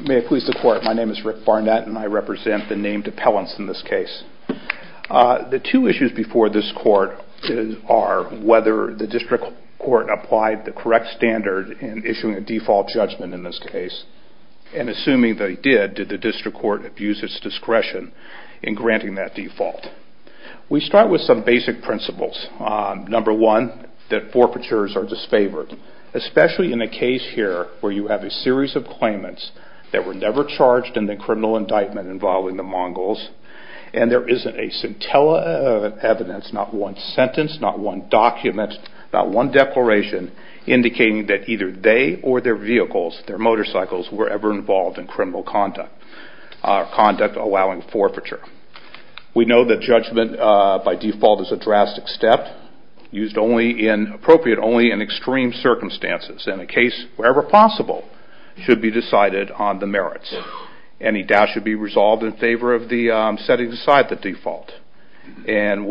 May it please the court, my name is Rick Barnett and I represent the named appellants in this case. The two issues before this court are whether the district court applied the correct standard in issuing a default judgment in this case and assuming that it did, did the district court abuse its discretion in granting that default? We start with some basic principles. Number one, that forfeitures are disfavored, especially in a case here where you have a series of claimants that were never charged in the criminal indictment involving the Mongols and there isn't a scintilla of evidence, not one sentence, not one document, not one declaration indicating that either they or their vehicles, their motorcycles were ever involved in criminal conduct or conduct allowing forfeiture. We know that judgment by default is a drastic step used only in, appropriate only in extreme circumstances and a case wherever possible should be decided on the merits. Any doubt should be resolved in favor of the setting aside the default and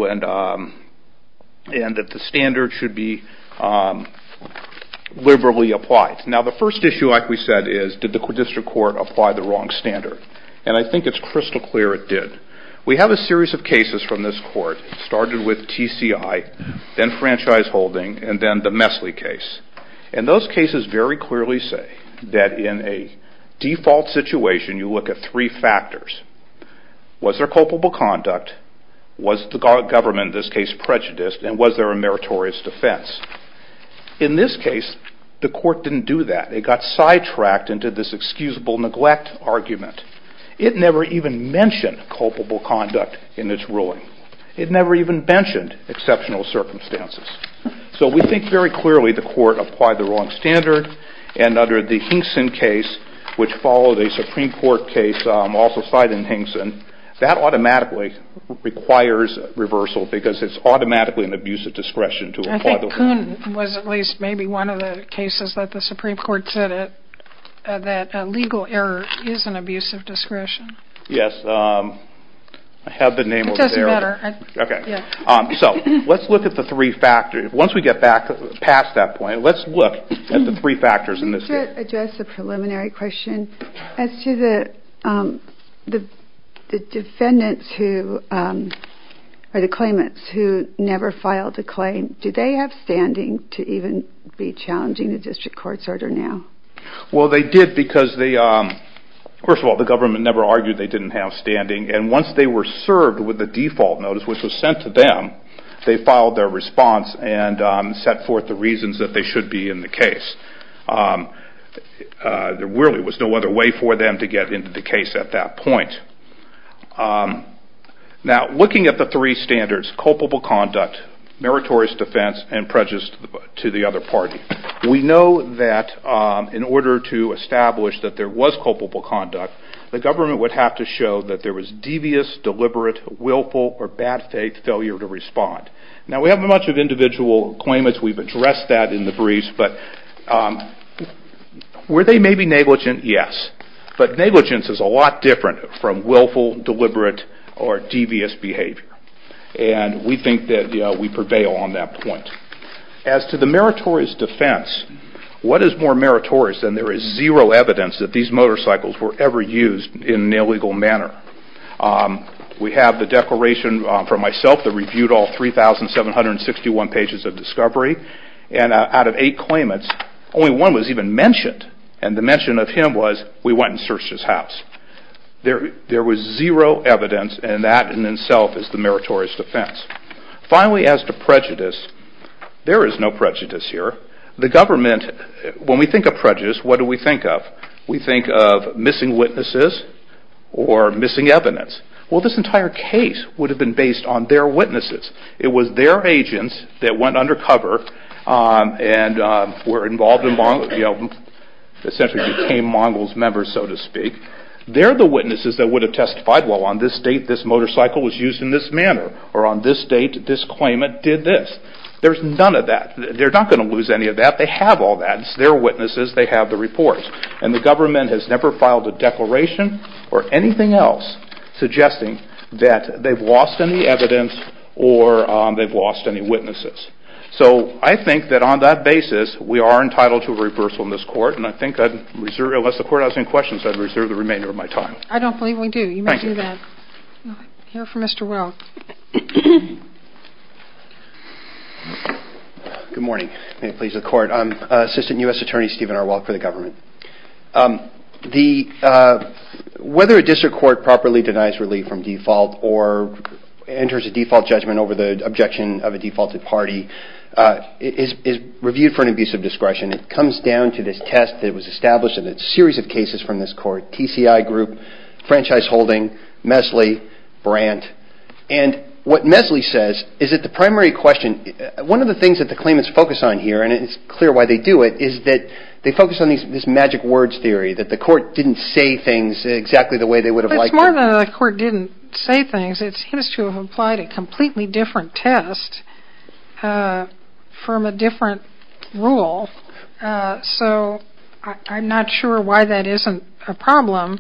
that the standard should be liberally applied. Now the first issue like we said is did the district court apply the wrong standard? And I think it's crystal clear it did. We have a series of cases from this court, started with TCI, then franchise holding and then the Messley case. And those cases very clearly say that in a default situation you look at three factors. Was there culpable conduct? Was the government in this case prejudiced and was there a meritorious defense? In this case the court didn't do that. It got sidetracked into this excusable neglect argument. It never even mentioned culpable conduct in its ruling. It never even mentioned exceptional circumstances. So we think very clearly the court applied the wrong standard and under the Hinkson case which followed a Supreme Court case also cited in Hinkson, that automatically requires reversal because it's automatically an abuse of discretion to apply the wrong standard. I think Kuhn was at least maybe one of the cases that the Supreme Court said that a legal error is an abuse of discretion. Yes, I have the name over there. It doesn't matter. So let's look at the three factors. Once we get back past that point, let's look at the three factors in this case. Let me just address the preliminary question. As to the defendants or the claimants who never filed a claim, did they have standing to even be challenging the district court's order now? Well they did because first of all the government never argued they didn't have standing and once they were served with the default notice which was sent to them, they filed their response and set forth the should be in the case. There really was no other way for them to get into the case at that point. Now looking at the three standards, culpable conduct, meritorious defense and prejudice to the other party, we know that in order to establish that there was culpable conduct, the government would have to show that there was devious, deliberate, willful or bad faith failure to respond. Now we haven't much of individual claimants. We've addressed that in the briefs, but were they maybe negligent? Yes, but negligence is a lot different from willful, deliberate or devious behavior and we think that we prevail on that point. As to the meritorious defense, what is more meritorious than there is zero evidence that these motorcycles were ever used in an illegal manner? We have the declaration from myself that reviewed all 3,761 pages of discovery and out of eight claimants, only one was even mentioned and the mention of him was we went and searched his house. There was zero evidence and that in itself is the meritorious defense. Finally as to prejudice, there is no prejudice here. The government, when we think of prejudice, what do we think of? We think of missing witnesses or missing evidence. Well this entire case would have been based on their witnesses. It was their agents that went undercover and were involved and essentially became Mongols members so to speak. They're the witnesses that would have testified, well on this date this motorcycle was used in this manner or on this date this claimant did this. There's none of that. They're not going to lose any of that. They have all that. It's their witnesses. They have the reports and the government has never filed a declaration or anything else suggesting that they've lost any evidence or they've lost any witnesses. So I think that on that basis we are entitled to a reversal in this court and I think I'd reserve, unless the court has any questions, I'd reserve the remainder of my time. I don't believe we do. You may do that. Hear from Mr. Welk. Good morning. May it please the court. I'm Assistant U.S. Attorney Stephen R. Welk for the government. Whether a district court properly denies relief from default or enters a default judgment over the objection of a defaulted party is reviewed for an abuse of discretion. It comes down to this test that was established in a series of cases from this court, TCI Group, Franchise Holding, Mesley, Brandt. And what Mesley says is that the primary question, one of the things that the claimants focus on here, and it's clear why they do it, is that they focus on this magic words theory, that the court didn't say things exactly the way they would have liked to. It's more than the court didn't say things. It seems to have applied a completely different test from a different rule. So I'm not sure why that isn't a problem.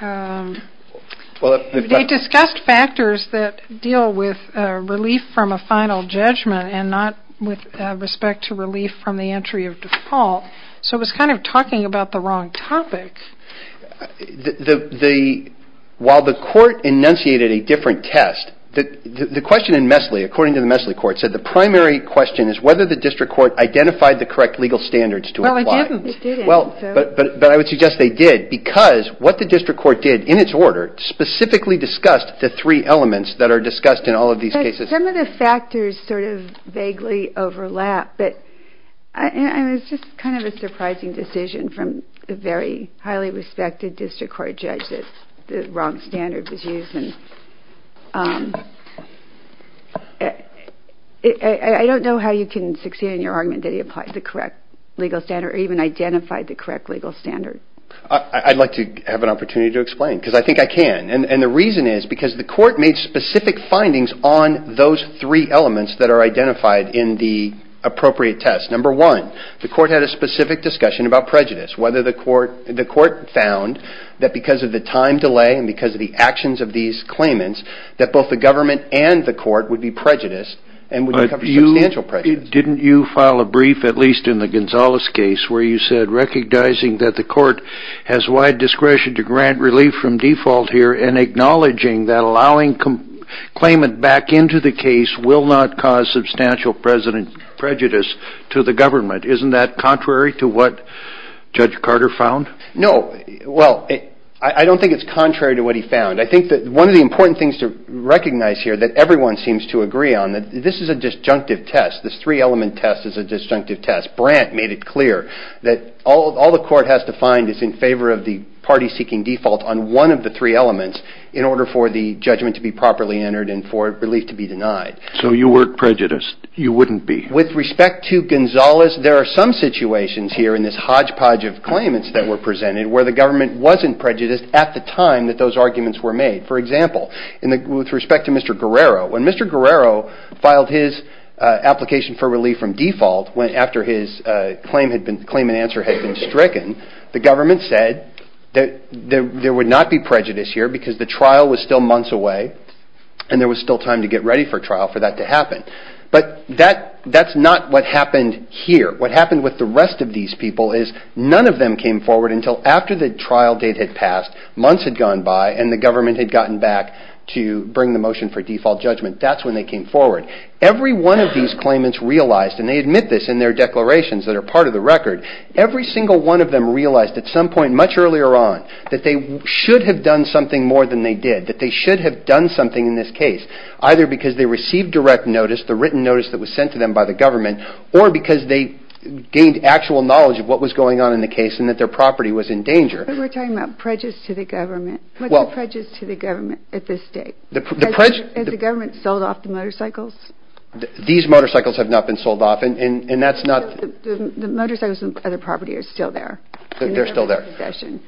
They discussed factors that deal with relief from a final judgment and not with respect to relief from the entry of default. So it was kind of talking about the wrong topic. While the court enunciated a different test, the question in Mesley, according to the Mesley court, said the primary question is whether the district court identified the correct legal standards to apply. Well, it didn't. But I would suggest they did, because what the district court did in its order specifically discussed the three elements that are discussed in all of these cases. Some of the factors sort of vaguely overlap, but it was just kind of a surprising decision from a very highly respected district court judge that the wrong standard was used. I don't know how you can succeed in your argument that he applied the correct legal standard or even identified the correct legal standard. I'd like to have an opportunity to explain, because I think I can. And the reason is because the court made specific findings on those three elements that are identified in the appropriate test. Number one, the court had a specific discussion about prejudice, whether the court found that because of the time delay and because of the actions of these claimants that both the government and the court would be prejudiced and would encounter substantial prejudice. Didn't you file a brief, at least in the Gonzales case, where you said, recognizing that the court has wide discretion to grant relief from default here and acknowledging that allowing claimant back into the case will not cause substantial prejudice to the government. Isn't that contrary to what Judge Carter found? No. Well, I don't think it's contrary to what he found. I think that one of the important things to recognize here that everyone seems to agree on, that this is a disjunctive test. This three element test is a disjunctive test. Brandt made it clear that all the court has to find is in favor of the party seeking default on one of the three elements in order for the judgment to be properly entered and for relief to be denied. So you weren't prejudiced. You wouldn't be. With respect to Gonzales, there are some situations here in this hodgepodge of claimants that were presented where the government wasn't prejudiced at the time that those arguments were made. For example, with respect to Mr. Guerrero, when Mr. Guerrero filed his application for relief from default after his claim and answer had been stricken, the government said there would not be prejudice here because the trial was still months away and there was still time to get ready for trial for that to happen. But that's not what happened here. What happened with the rest of these people is none of them came forward until after the trial date had passed, months had gone by, and the government had gotten back to bring the motion for default judgment. That's when they came forward. Every one of these claimants realized, and they admit this in their declarations that are part of the record, every single one of them realized at some point much earlier on that they should have done something more than they did, that they should have done something in this case, either because they received direct notice, the written notice that was sent to them by the government, or because they gained actual knowledge of what was going on in the case and that their property was in danger. But we're talking about prejudice to the government. What's the prejudice to the government at this date? Has the government sold off the motorcycles? These motorcycles have not been sold off. The motorcycles and other property are still there. They're still there.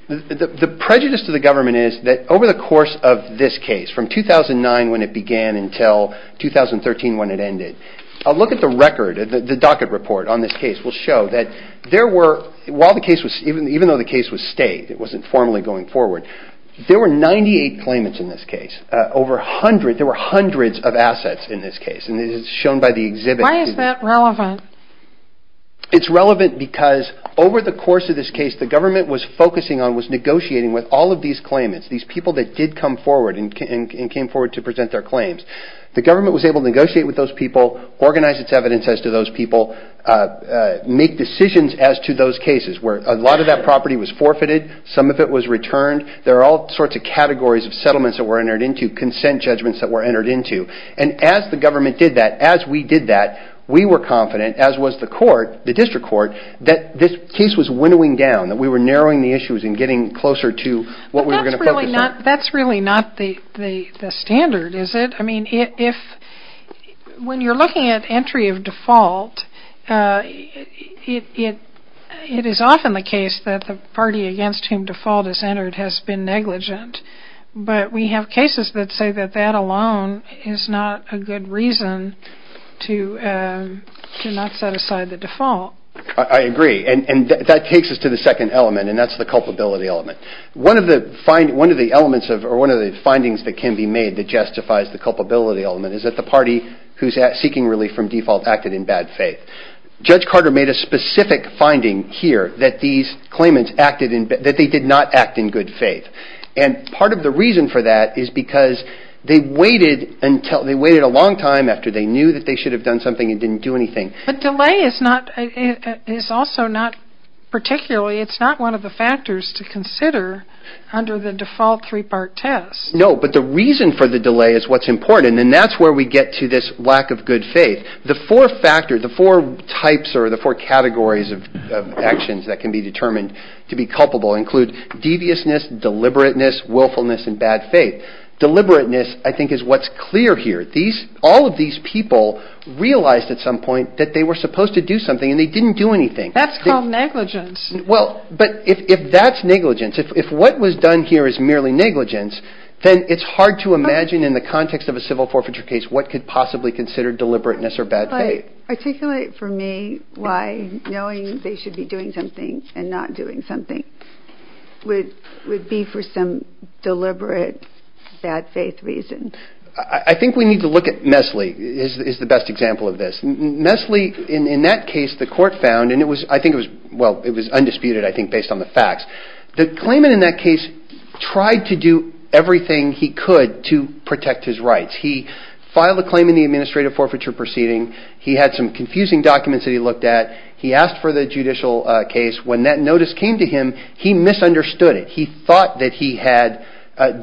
The prejudice to the government is that over the course of this case, from 2009 when it began until 2013 when it ended, a look at the record, the docket report on this case will show that there were, even though the case was stayed, it wasn't formally going forward, there were 98 claimants in this case. Over 100, there were hundreds of assets in this case, and it's shown by the exhibit. Why is that relevant? It's relevant because over the course of this case, the government was focusing on, was negotiating with all of these claimants, these people that did come forward and came forward to present their claims. The government was able to negotiate with those people, organize its evidence as to those people, make decisions as to those cases where a lot of that property was forfeited, some of it was returned. There are all sorts of categories of settlements that were entered into, consent judgments that were entered into, and as the government did that, as we did that, we were confident, as was the court, the district court, that this case was winnowing down, that we were narrowing the issues and getting closer to what we were going to focus on. That's really not the standard, is it? I mean, when you're looking at entry of default, it is often the case that the party against whom default is entered has been negligent, but we have cases that say that that alone is not a good reason to not set aside the default. I agree, and that takes us to the second element, and that's the culpability element. One of the findings that can be made that justifies the culpability element is that the party who's seeking relief from default acted in bad faith. Judge Carter made a specific finding here that these claimants acted in, that they did not act in good faith, and part of the reason for that is because they waited a long time after they knew that they should have done something and didn't do anything. But delay is also not particularly, it's not one of the factors to consider under the default three-part test. No, but the reason for the delay is what's important, and that's where we get to this lack of good faith. The four factors, the four types or the four categories of actions that can be determined to be culpable include deviousness, deliberateness, willfulness, and bad faith. Deliberateness, I think, is what's clear here. All of these people realized at some point that they were supposed to do something and they didn't do anything. That's called negligence. But if that's negligence, if what was done here is merely negligence, then it's hard to imagine in the context of a civil forfeiture case what could possibly consider deliberateness or bad faith. Articulate for me why knowing they should be doing something and not doing something would be for some deliberate bad faith reason. I think we need to look at Messle is the best example of this. Messle, in that case, the court found, and I think it was undisputed, I think, based on the facts. The claimant in that case tried to do everything he could to protect his rights. He filed a claim in the administrative forfeiture proceeding. He had some confusing documents that he looked at. He asked for the judicial case. When that notice came to him, he misunderstood it. He thought that he had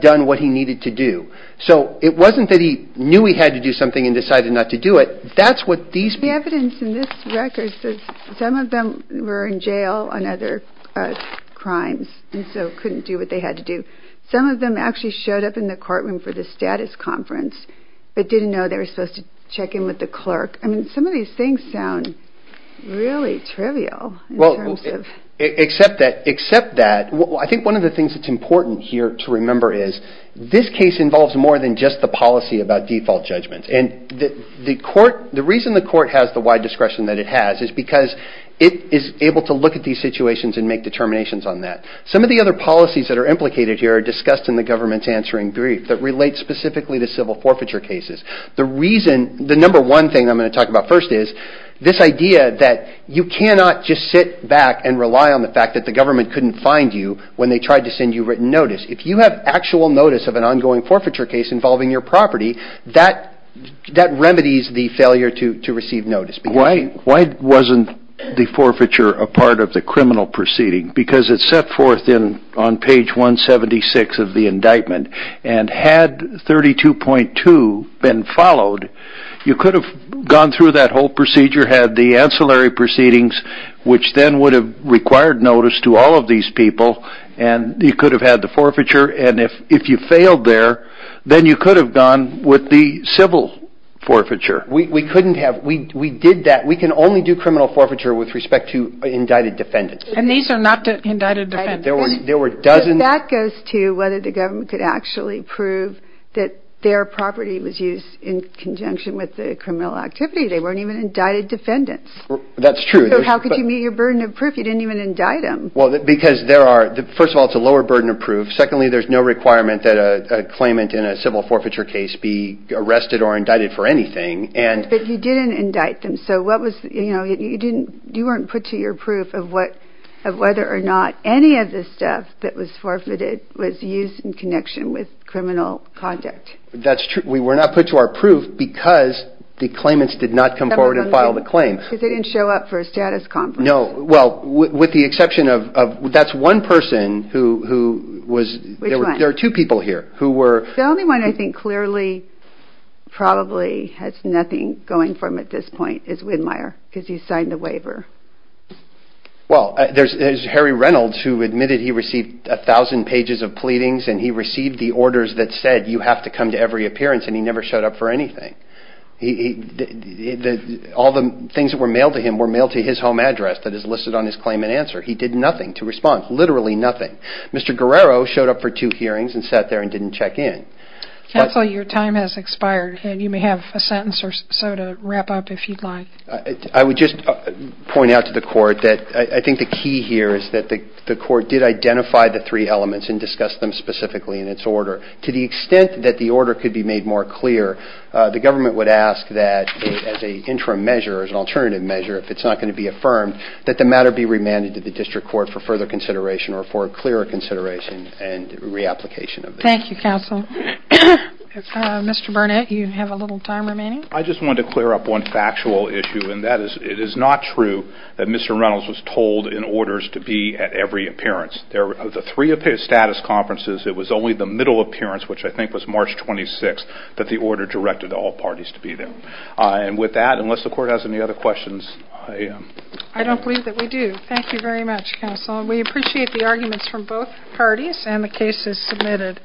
done what he needed to do. So it wasn't that he knew he had to do something and decided not to do it. That's what these people... The evidence in this record says some of them were in jail on other crimes and so couldn't do what they had to do. Some of them actually showed up in the courtroom for the status conference but didn't know they were supposed to check in with the clerk. I mean, some of these things sound really trivial in terms of... Except that, except that, I think one of the things that's important here to remember is this case involves more than just the policy about default judgments. The reason the court has the wide discretion that it has is because it is able to look at these situations and make determinations on that. Some of the other policies that are implicated here are discussed in the government's answering brief that relates specifically to civil forfeiture cases. The reason, the number one thing I'm going to talk about first is this idea that you cannot just sit back and rely on the fact that the government couldn't find you when they tried to send you written notice. If you have actual notice of an ongoing forfeiture case involving your property, that remedies the failure to receive notice. Why wasn't the forfeiture a part of the criminal proceeding? Because it's set forth on page 176 of the indictment and had 32.2 been followed, you could have gone through that whole procedure, had the ancillary proceedings, which then would have required notice to all of these people and you could have had the forfeiture and if you failed there, then you could have gone with the civil forfeiture. We couldn't have, we did that, we can only do criminal forfeiture with respect to indicted defendants. And these are not indicted defendants. There were dozens. That goes to whether the government could actually prove that their property was used in conjunction with the criminal activity. They weren't even indicted defendants. That's true. So how could you meet your burden of proof if you didn't even indict them? Because there are, first of all it's a lower burden of proof, secondly there's no requirement that a claimant in a civil forfeiture case be arrested or indicted for anything. But you didn't indict them, so you weren't put to your proof of whether or not any of the stuff that was forfeited was used in connection with criminal conduct. That's true, we were not put to our proof because the claimants did not come forward and file the claim. Because they didn't show up for a status conference. No, well with the exception of, that's one person who was, there are two people here who were. The only one I think clearly probably has nothing going for him at this point is Widmeyer because he signed the waiver. Well there's Harry Reynolds who admitted he received a thousand pages of pleadings and he received the orders that said you have to come to every appearance and he never showed up for anything. All the things that were mailed to him were mailed to his home address that is listed on his claimant answer. He did nothing to respond, literally nothing. Mr. Guerrero showed up for two hearings and sat there and didn't check in. Counsel, your time has expired and you may have a sentence or so to wrap up if you'd like. I would just point out to the court that I think the key here is that the court did identify the three elements and discuss them specifically in its order. To the extent that the order could be made more clear, the government would ask that as an interim measure, as an alternative measure, if it's not going to be affirmed, that the matter be remanded to the district court for further consideration or for a clearer consideration and reapplication of this. Thank you, Counsel. Mr. Burnett, you have a little time remaining. I just wanted to clear up one factual issue and that is it is not true that Mr. Reynolds was told in orders to be at every appearance. Of the three status conferences, it was only the middle appearance, which I think was March 26th, that the order directed all parties to be there. With that, unless the court has any other questions, I am... I don't believe that we do. Thank you very much, Counsel. We appreciate the arguments from both parties and the cases submitted.